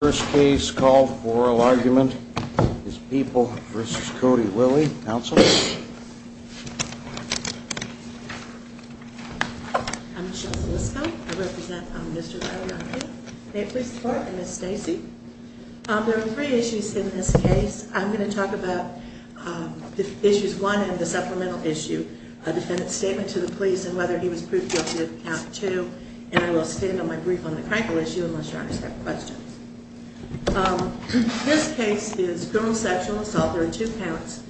First case called oral argument is people versus Cody. Willie Council. Mr. Miss Stacy. There are three issues in this case, I'm going to talk about the issues one and the supplemental issue, a defendant statement to the police and whether he was proved guilty of count two. And I will stand on my brief on the crankle issue unless you have questions. Um, this case is criminal sexual assault. There are two counts.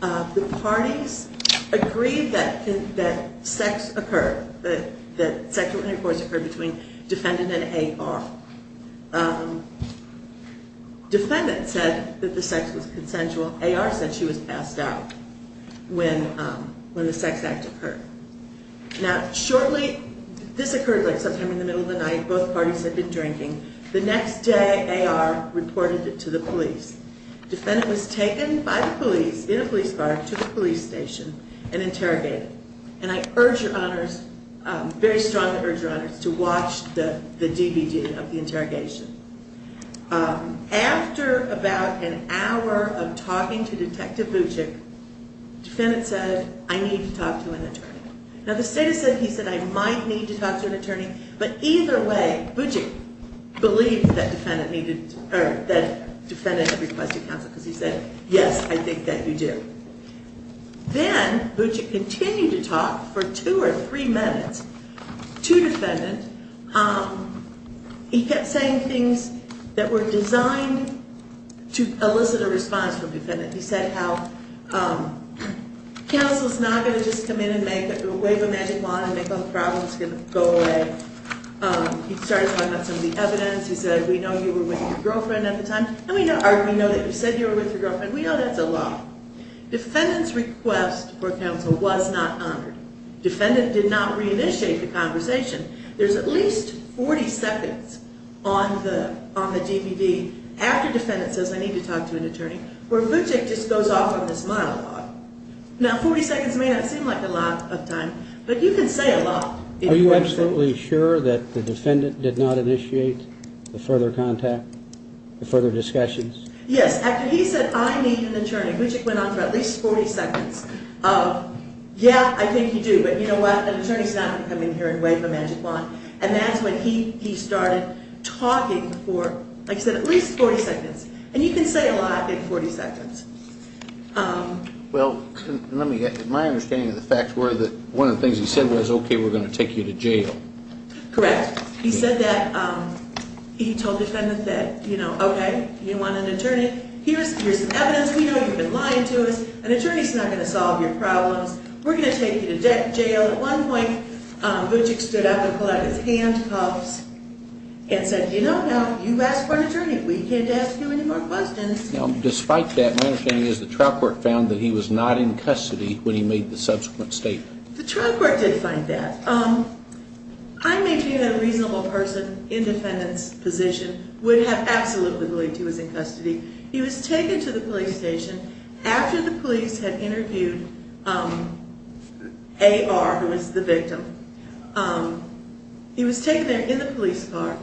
The parties agreed that that sex occurred, that that sexual intercourse occurred between defendant and AR. Defendant said that the sex was consensual. AR said she was passed out when, when the sex act occurred. Now, shortly, this occurred like sometime in the middle of the night, both day, AR reported it to the police. Defendant was taken by the police in a police car to the police station and interrogated. And I urge your honors, very strongly urge your honors to watch the DVD of the interrogation. After about an hour of talking to Detective Buczyk, defendant said, I need to talk to an attorney. Now, the state has said, he said, I might need to talk to an attorney. But either way, Buczyk believed that defendant needed, or that defendant requested counsel because he said, yes, I think that you do. Then Buczyk continued to talk for two or three minutes to defendant. Um, he kept saying things that were designed to elicit a response from defendant. He said how, um, counsel is not going to just come in and make a wave a magic problem is going to go away. Um, he started talking about some of the evidence. He said, we know you were with your girlfriend at the time. And we know, AR, we know that you said you were with your girlfriend. We know that's a law. Defendant's request for counsel was not honored. Defendant did not reinitiate the conversation. There's at least 40 seconds on the, on the DVD after defendant says, I need to talk to an attorney, where Buczyk just goes off on this monologue. Now, 40 seconds may not seem like a lot of time, but you can say a lot. Are you absolutely sure that the defendant did not initiate the further contact, the further discussions? Yes. After he said, I need an attorney, Buczyk went on for at least 40 seconds. Uh, yeah, I think you do. But you know what? An attorney's not going to come in here and wave a magic wand. And that's when he, he started talking for, like I said, at least 40 seconds. And you can say a lot in 40 seconds. Um, well, let me get my understanding of the facts were that one of the things he said was, okay, we're going to take you to jail. Correct. He said that, um, he told defendant that, you know, okay, you want an attorney, here's, here's evidence. We know you've been lying to us. An attorney's not going to solve your problems. We're going to take you to jail. At one point, Buczyk stood up and pulled out his handcuffs and said, you know, you asked for an attorney. We can't ask you any more questions. Now, despite that, my understanding is the trial court found that he was not in custody when he made the subsequent statement. The trial court did find that, um, I maintain that a reasonable person in defendant's position would have absolutely believed he was in custody. He was taken to the police station after the police had interviewed, um, AR, who was the victim. Um, he was taken there in the police car.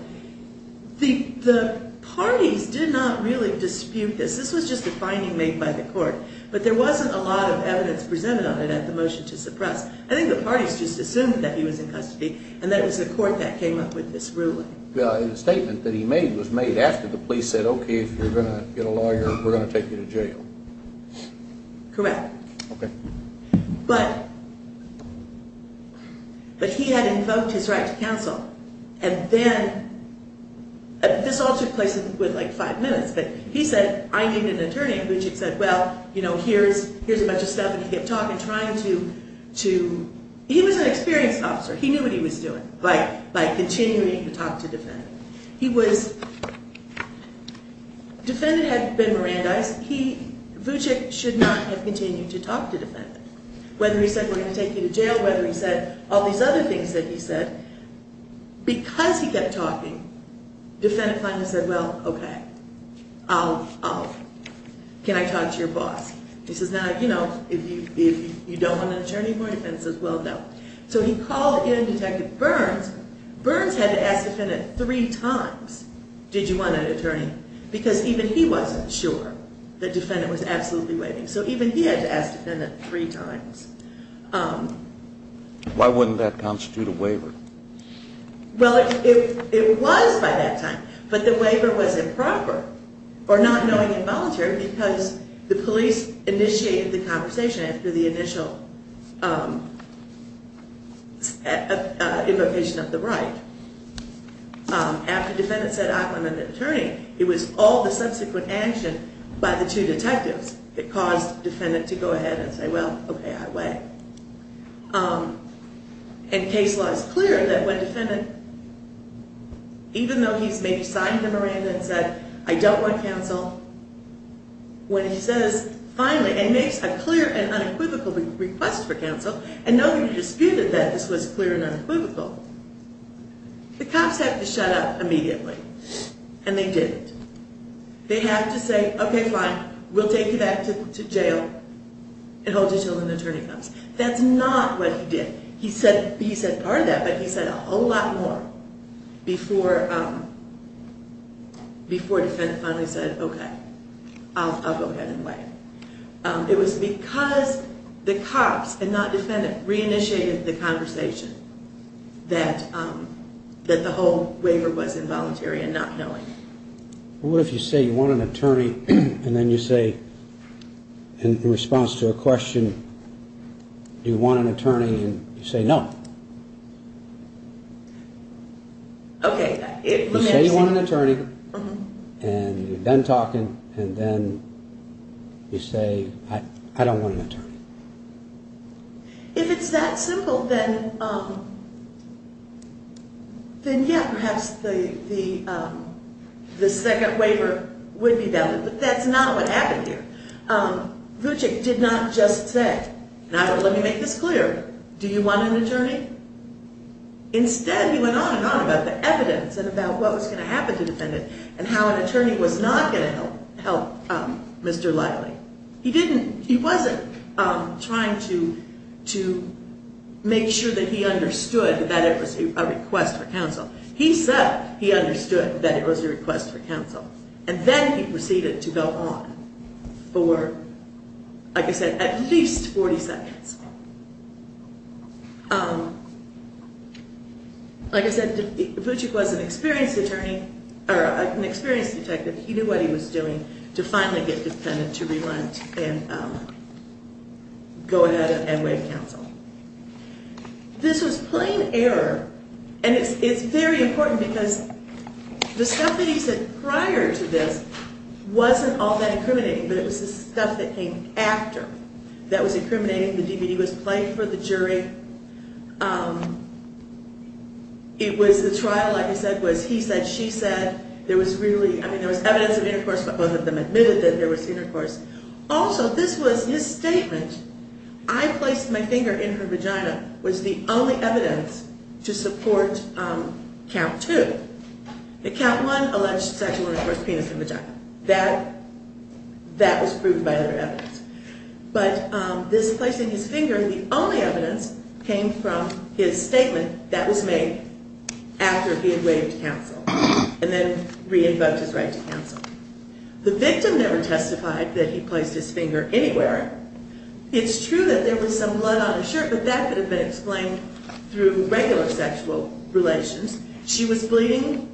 The, the parties did not really dispute this. This was just a finding made by the court, but there wasn't a lot of evidence presented on it at the motion to the parties just assumed that he was in custody. And that was the court that came up with this ruling. The statement that he made was made after the police said, okay, if you're going to get a lawyer, we're going to take you to jail. Correct. Okay. But, but he had invoked his right to counsel. And then this all took place with like five minutes, but he said, I need an attorney. And Buczyk said, well, you know, here's, here's a bunch of stuff that he kept talking, trying to, he was an experienced officer. He knew what he was doing by, by continuing to talk to defendant. He was, defendant had been Mirandized. He, Buczyk should not have continued to talk to defendant, whether he said, we're going to take you to jail, whether he said all these other things that he said, because he kept talking, defendant finally said, well, okay, I'll, I'll, can I talk to your boss? He says, now, you know, if you, if you don't want an attorney for your defense as well, no. So he called in detective Burns. Burns had to ask defendant three times, did you want an attorney? Because even he wasn't sure that defendant was absolutely waiting. So even he had to ask defendant three times. Why wouldn't that constitute a waiver? Well, it was by that time, but the waiver was improper or not knowing involuntary because the police initiated the conversation after the initial invocation of the right. After defendant said, I want an attorney, it was all the subsequent action by the two detectives that caused defendant to go ahead and say, well, okay, I wait. And case law is clear that when defendant, even though he's maybe signed the Miranda and said, I don't want counsel, when he says finally, and he makes a clear and unequivocal request for counsel, and no one disputed that this was clear and unequivocal, the cops have to shut up immediately. And they didn't. They have to say, okay, fine, we'll take you back to jail and hold you until an attorney comes. That's not what he did. He said, he said part of that, but he said a whole lot more before, before defendant finally said, okay, I'll go ahead and wait. It was because the cops and not defendant re-initiated the conversation that, that the whole waiver was involuntary and not knowing. What if you say you want an attorney and then you say, in response to a question, do you want an attorney? And you say, no. Okay. You say you want an attorney and you've been talking and then you say, I don't want an attorney. If it's that simple, then, um, then yeah, perhaps the, the, um, the second waiver would be valid, but that's not what happened here. Um, Vucek did not just say, and I don't, let me make this clear. Do you want an attorney? Instead, he went on and on about the evidence and about what was going to happen to defendant and how an attorney was not going to help, um, Mr. Liley. He didn't, he wasn't, um, trying to, to make sure that he understood that it was a request for counsel. He said he understood that it was a request for counsel. And then he proceeded to go on for, like I said, Vucek was an experienced attorney or an experienced detective. He knew what he was doing to finally get defendant to relent and, um, go ahead and waive counsel. This was plain error. And it's, it's very important because the stuff that he said prior to this wasn't all that incriminating, but it was the stuff that came after that was incriminating. The DVD was played for the jury. Um, it was the trial, like I said, was he said, she said there was really, I mean, there was evidence of intercourse, but both of them admitted that there was intercourse. Also, this was his statement. I placed my finger in her vagina was the only evidence to support, um, count two. The count one alleged sexual intercourse, penis in the vagina was not proved by other evidence, but, um, this place in his finger, the only evidence came from his statement that was made after he had waived counsel and then re-invoked his right to counsel. The victim never testified that he placed his finger anywhere. It's true that there was some blood on his shirt, but that could have been explained through regular sexual relations. She was bleeding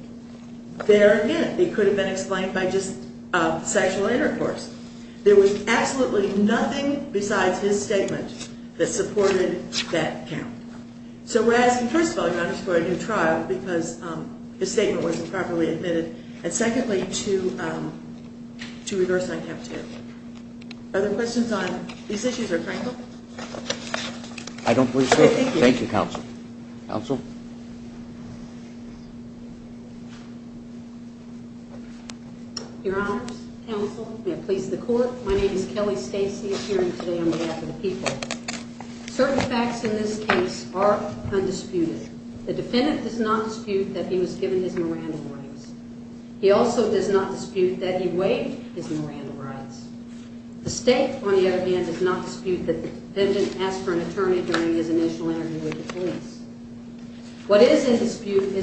there again. It could have been explained by just, um, sexual intercourse. There was absolutely nothing besides his statement that supported that count. So we're asking, first of all, you underscored a new trial because, um, the statement wasn't properly admitted. And secondly, to, um, to reverse that count two. Are there questions on these issues or Franklin? I don't believe so. Thank you. Counsel. Counsel. Yeah. Your honor's counsel. May it please the court. My name is Kelly Stacy appearing today on behalf of the people. Certain facts in this case are undisputed. The defendant does not dispute that he was given his Miranda rights. He also does not dispute that he waived his Miranda rights. The state, on the other hand, does not dispute that the defendant asked for an attorney during his initial interview with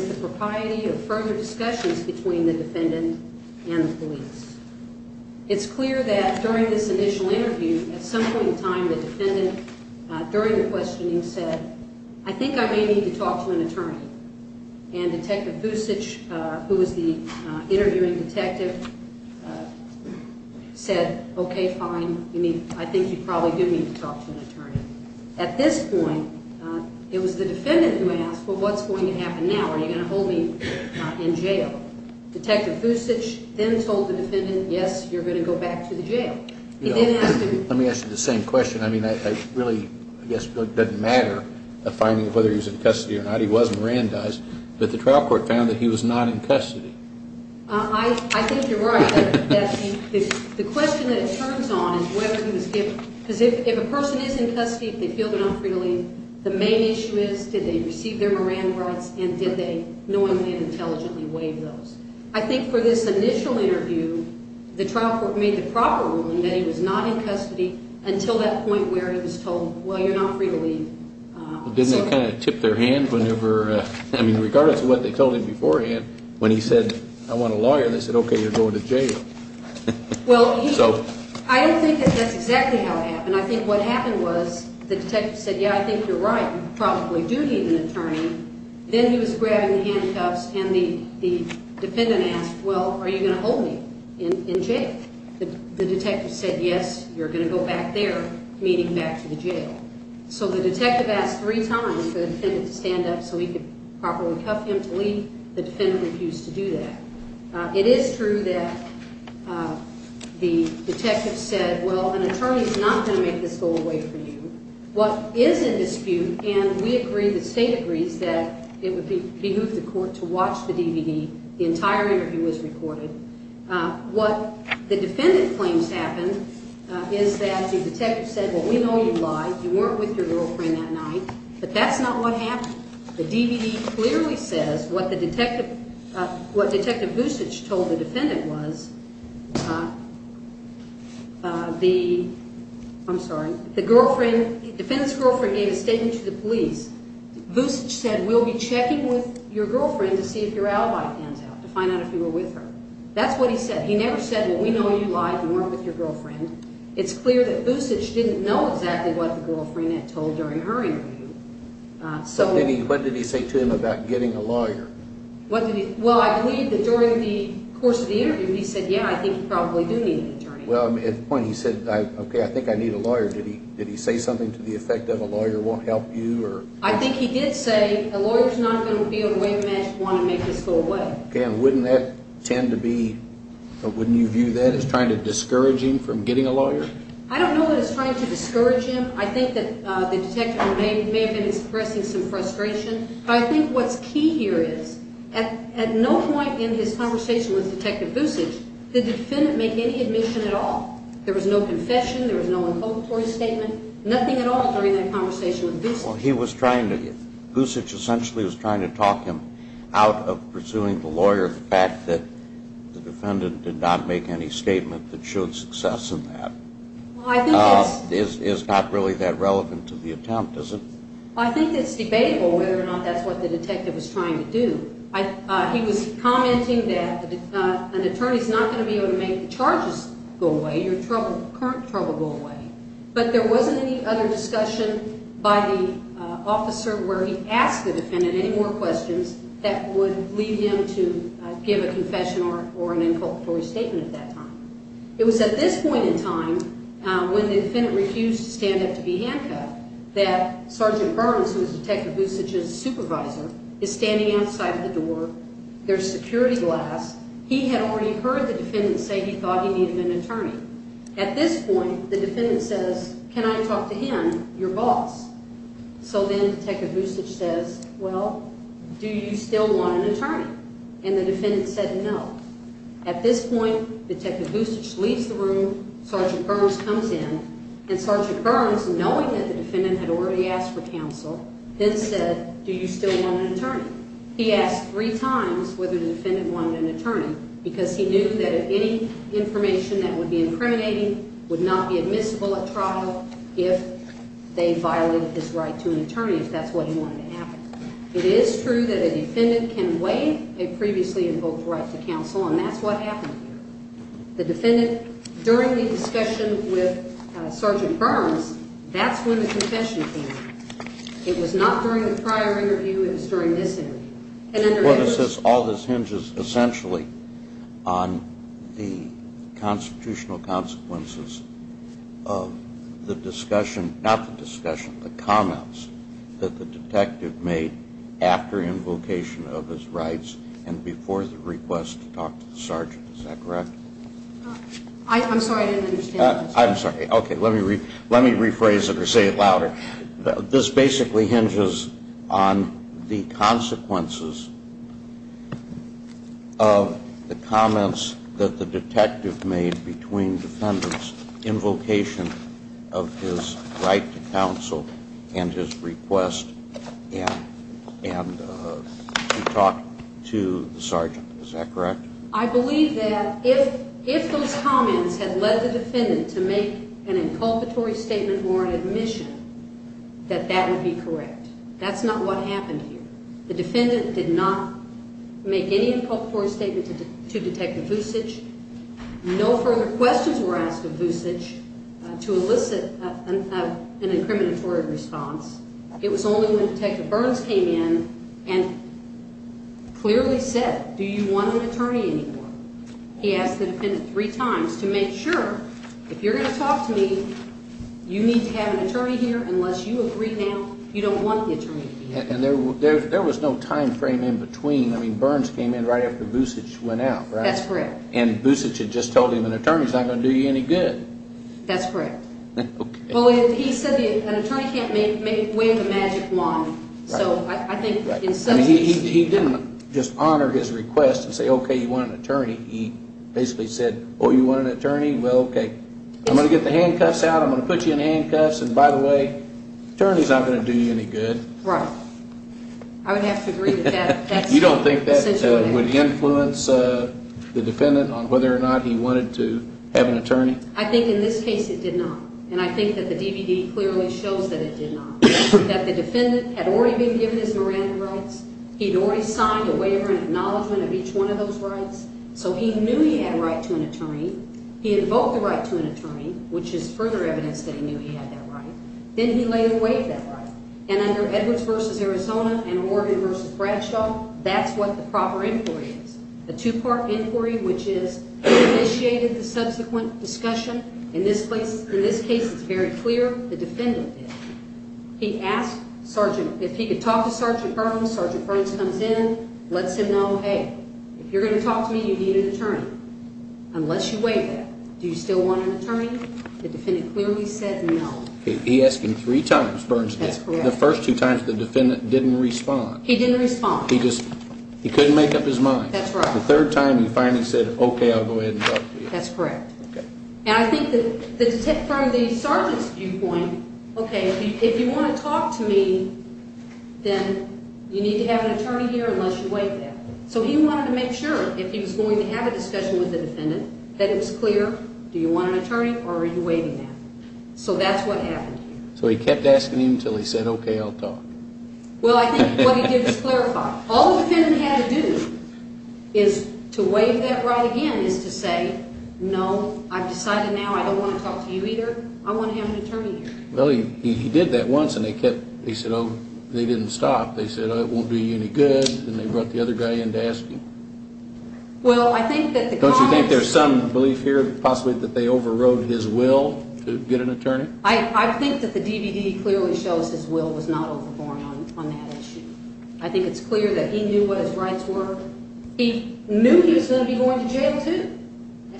the propriety of further discussions between the defendant and the police. It's clear that during this initial interview, at some point in time, the defendant during the questioning said, I think I may need to talk to an attorney and detective usage, uh, who was the, uh, interviewing detective, uh, said, okay, fine. You need, I think you probably do need to talk to an attorney at this point. Uh, it was the defendant who asked, well, what's going to happen now? Are you going to hold me in jail? Detective usage then told the defendant, yes, you're going to go back to the jail. Let me ask you the same question. I mean, I really, I guess it doesn't matter a finding of whether he's in custody or not. He wasn't ran does, but the trial court found that he was not in custody. I think you're right. The question that it turns on is whether he was given because if a person is in custody, they feel they're not and did they knowingly and intelligently waive those. I think for this initial interview, the trial court made the proper ruling that he was not in custody until that point where he was told, well, you're not free to leave. Didn't that kind of tip their hand whenever, uh, I mean, regardless of what they told him beforehand, when he said, I want a lawyer, they said, okay, you're going to jail. Well, I don't think that that's exactly how it happened. I think what happened was the detective said, yeah, I think you're right. You probably do need an attorney. Then he was grabbing the handcuffs and the, the defendant asked, well, are you going to hold me in jail? The detective said, yes, you're going to go back there, meaning back to the jail. So the detective asked three times for the defendant to stand up so he could properly cuff him to leave. The defendant refused to do that. Uh, it is true that, uh, the detective said, well, an attorney is not going to make this go away from you. What is the dispute? And we agree, the state agrees that it would be behoove the court to watch the DVD. The entire interview was recorded. Uh, what the defendant claims happened, uh, is that the detective said, well, we know you lied. You weren't with your girlfriend that night, but that's not what happened. The DVD clearly says what the detective, uh, what detective usage told the defendant was, uh, uh, the, I'm sorry, the girlfriend gave a statement to the police, said, we'll be checking with your girlfriend to see if your alibi pans out to find out if you were with her. That's what he said. He never said, well, we know you lied. You weren't with your girlfriend. It's clear that usage didn't know exactly what the girlfriend had told during her interview. Uh, so what did he say to him about getting a lawyer? What did he, well, I believe that during the course of the interview, he said, yeah, I think you probably do need an attorney. Well, at the point he said, okay, I think I need a lawyer. Did he, did he say something to the effect of a lawyer won't help you? Or I think he did say a lawyer is not going to be able to wait match one and make this go away. Okay. And wouldn't that tend to be a, wouldn't you view that as trying to discourage him from getting a lawyer? I don't know that it's trying to discourage him. I think that, uh, the detective may, may have been expressing some frustration, but I think what's key here is at, at no point in his conversation with detective usage, the defendant make any admission at all. There was no statement, nothing at all during that conversation. He was trying to usage essentially was trying to talk him out of pursuing the lawyer. The fact that the defendant did not make any statement that showed success in that is, is not really that relevant to the attempt. Is it? I think it's debatable whether or not that's what the detective was trying to do. I, uh, he was commenting that, uh, an attorney is not going to be able to make the charges go away. You're current trouble go away, but there wasn't any other discussion by the, uh, officer where he asked the defendant any more questions that would lead him to give a confession or, or an inculpatory statement at that time. It was at this point in time, uh, when the defendant refused to stand up to be handcuffed that Sergeant Burns, who was detective usage's supervisor is standing outside of the door. There's security glass. He had already heard the defendant say he needed an attorney. At this point, the defendant says, can I talk to him? Your boss? So then take a boost. It says, well, do you still want an attorney? And the defendant said, no. At this point, the technical usage leaves the room. Sergeant Burns comes in and Sergeant Burns, knowing that the defendant had already asked for counsel, then said, do you still want an attorney? He asked three times whether the defendant wanted an attorney because he knew that if information that would be incriminating would not be admissible at trial. If they violated his right to an attorney, if that's what he wanted to happen, it is true that a defendant can weigh a previously invoked right to counsel. And that's what happened. The defendant during the discussion with Sergeant Burns, that's when the confession came. It was not during the prior interview. It was during this interview. All this hinges essentially on the constitutional consequences of the discussion, not the discussion, the comments that the detective made after invocation of his rights and before the request to talk to the sergeant. Is that correct? I'm sorry, I didn't understand. I'm sorry. Okay. Let me rephrase it or say it louder. This basically hinges on the consequences of the comments that the detective made between defendants' invocation of his right to counsel and his request and to talk to the sergeant. Is that correct? I believe that if those comments had led the defendant to make an inculpatory statement or an admission, that that would be did not make any inculpatory statement to Detective Vucic. No further questions were asked of Vucic to elicit an incriminatory response. It was only when Detective Burns came in and clearly said, do you want an attorney anymore? He asked the defendant three times to make sure if you're going to talk to me, you need to have an attorney here unless you agree now you don't want the attorney. And there was no time frame in between. I mean, Burns came in right after Vucic went out, right? That's correct. And Vucic had just told him an attorney is not going to do you any good. That's correct. Well, he said an attorney can't make way of the magic wand. So I think in some sense... He didn't just honor his request and say, okay, you want an attorney. He basically said, oh, you want an attorney? Well, okay, I'm going to get the handcuffs out. I'm going to put you in handcuffs. And by the way, attorney's not going to do you any good. Right. I would have to agree with that. You don't think that would influence the defendant on whether or not he wanted to have an attorney? I think in this case it did not. And I think that the DVD clearly shows that it did not. That the defendant had already been given his Miranda rights. He'd already signed a waiver and acknowledgement of each one of those rights. So he knew he had a right to an attorney. He invoked the right to an attorney, which is further evidence that he knew he had that right. Then he laid away that right. And under Edwards v. Arizona and Morgan v. Bradshaw, that's what the proper inquiry is. A two-part inquiry, which is initiated the subsequent discussion. In this case, it's very clear the defendant did. He asked if he could talk to Sergeant Burns. Sergeant Burns comes in, lets him know, hey, if you're going to talk to me, you need an attorney, unless you wait. Do you still want an attorney? The first two times the defendant didn't respond. He couldn't make up his mind. The third time he finally said, okay, I'll go ahead and talk to you. That's correct. And I think that from the sergeant's viewpoint, okay, if you want to talk to me, then you need to have an attorney here unless you wait. So he wanted to make sure if he was going to have a discussion with the defendant, that it was clear. Do you want an attorney or are you waiting now? So that's what happened. So he kept asking him until he said, okay, I'll talk. Well, I think what he did was clarify. All the defendant had to do is to waive that right again is to say, no, I've decided now I don't want to talk to you either. I want to have an attorney here. Well, he did that once and he said, oh, they didn't stop. They said, it won't do you any good. And they brought the other guy in to ask him. Don't you think there's some belief here possibly that they overrode his will to get an attorney? I think that the DVD clearly shows his will was not overborn on that issue. I think it's clear that he knew what his rights were. He knew he was going to be going to jail too.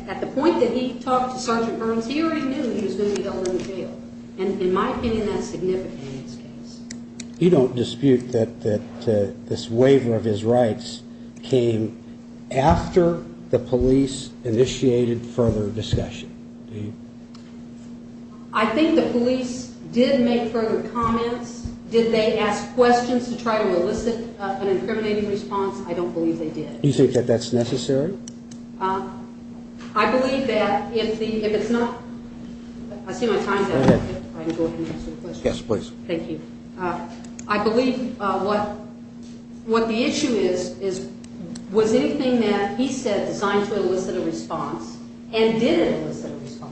At the point that he talked to Sergeant Burns here, he knew he was going to be going to jail. And in my opinion, that's significant in this case. You don't dispute that this waiver of his rights came after the police initiated further discussion. I think the police did make further comments. Did they ask questions to try to elicit an incriminating response? I don't believe they did. You think that that's necessary? I believe that if it's not, I see my time. Yes, please. Thank you. I believe what the issue is, was anything that he said designed to elicit a response and didn't elicit a response.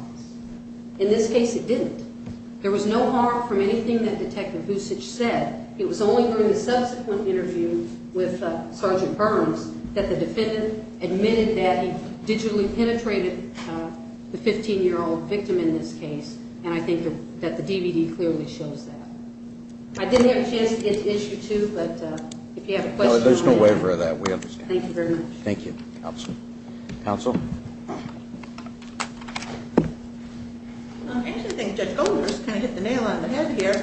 In this case, it didn't. There was no harm from anything that Detective Husich said. It was only during the subsequent interview with Sergeant Burns that the defendant admitted that he digitally penetrated the 15-year- old victim in this case. And I think that the DVD clearly shows that. I didn't have a chance to get to issue two, but if you have a question on that. No, there's no waiver of that. We have no waiver of that. Thank you. Counsel? Actually, I think Judge Goldberg's kind of hit the nail on the head here.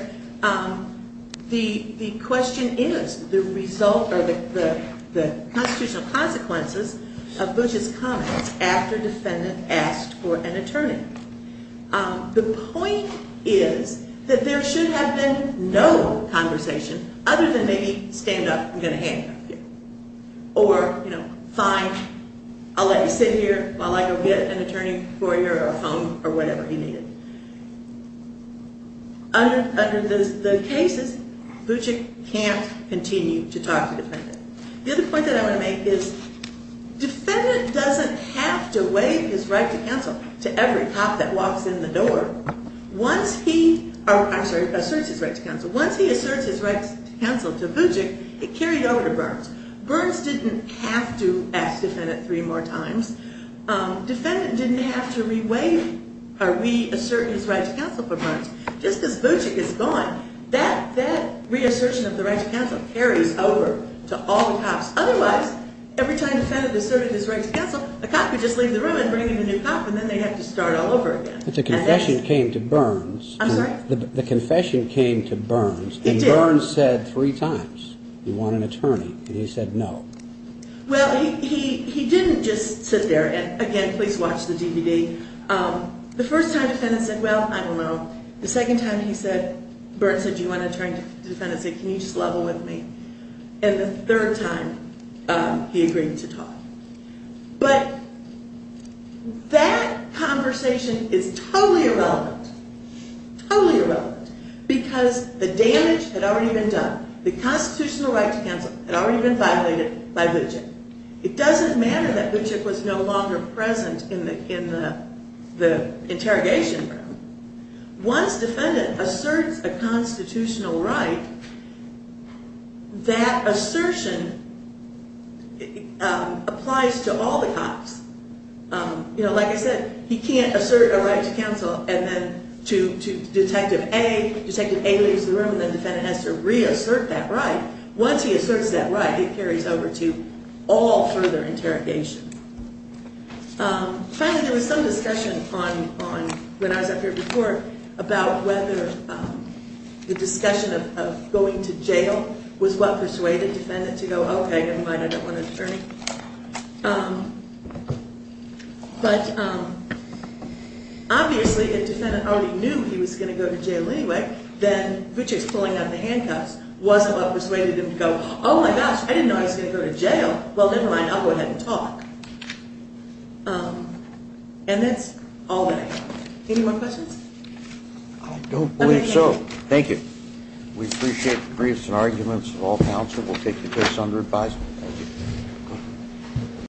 The question is, the result or the constitutional consequences of Butch's comments after defendant asked for an attorney. The point is that there should have been no conversation other than stand up, I'm going to handcuff you. Or fine, I'll let you sit here while I go get an attorney for you or a phone or whatever you need. Under the cases, Butchick can't continue to talk to the defendant. The other point that I want to make is defendant doesn't have to waive his right to counsel to every cop that walks in the door. Once he asserts his right to counsel to Butchick, it carried over to Burns. Burns didn't have to ask defendant three more times. Defendant didn't have to re-assert his right to counsel for Burns. Just as Butchick is gone, that re-assertion of the right to counsel carries over to all the cops. Otherwise, every time defendant asserted his right to counsel, a cop would just leave the room and bring in a new cop and then they'd have to start all over again. But the confession came to Burns. I'm sorry? The confession came to Burns. He wanted an attorney and he said no. Well, he didn't just sit there and again, please watch the DVD. The first time defendant said, well, I don't know. The second time he said, Burns said, do you want an attorney? The defendant said, can you just level with me? And the third time he agreed to talk. But that conversation is totally irrelevant. Totally irrelevant because the damage had already been done. The constitutional right to counsel had already been violated by Butchick. It doesn't matter that Butchick was no longer present in the interrogation room. Once defendant asserts a constitutional right, that assertion applies to all the cops. Like I said, he can't assert a right to counsel and then to Detective A, Detective A leaves the room and the right, once he asserts that right, it carries over to all further interrogation. Finally, there was some discussion on when I was up here before about whether the discussion of going to jail was what persuaded the defendant to go, okay, never mind, I don't want an attorney. But obviously if the defendant already knew he was going to go to jail anyway, then Butchick's pulling out of the handcuffs wasn't what persuaded him to go, oh my gosh, I didn't know he was going to go to jail. Well, never mind, I'll go ahead and talk. And that's all that I have. Any more questions? I don't believe so. Thank you. We appreciate the briefs and arguments of all counsel. We'll take the case under advisement. Thank you.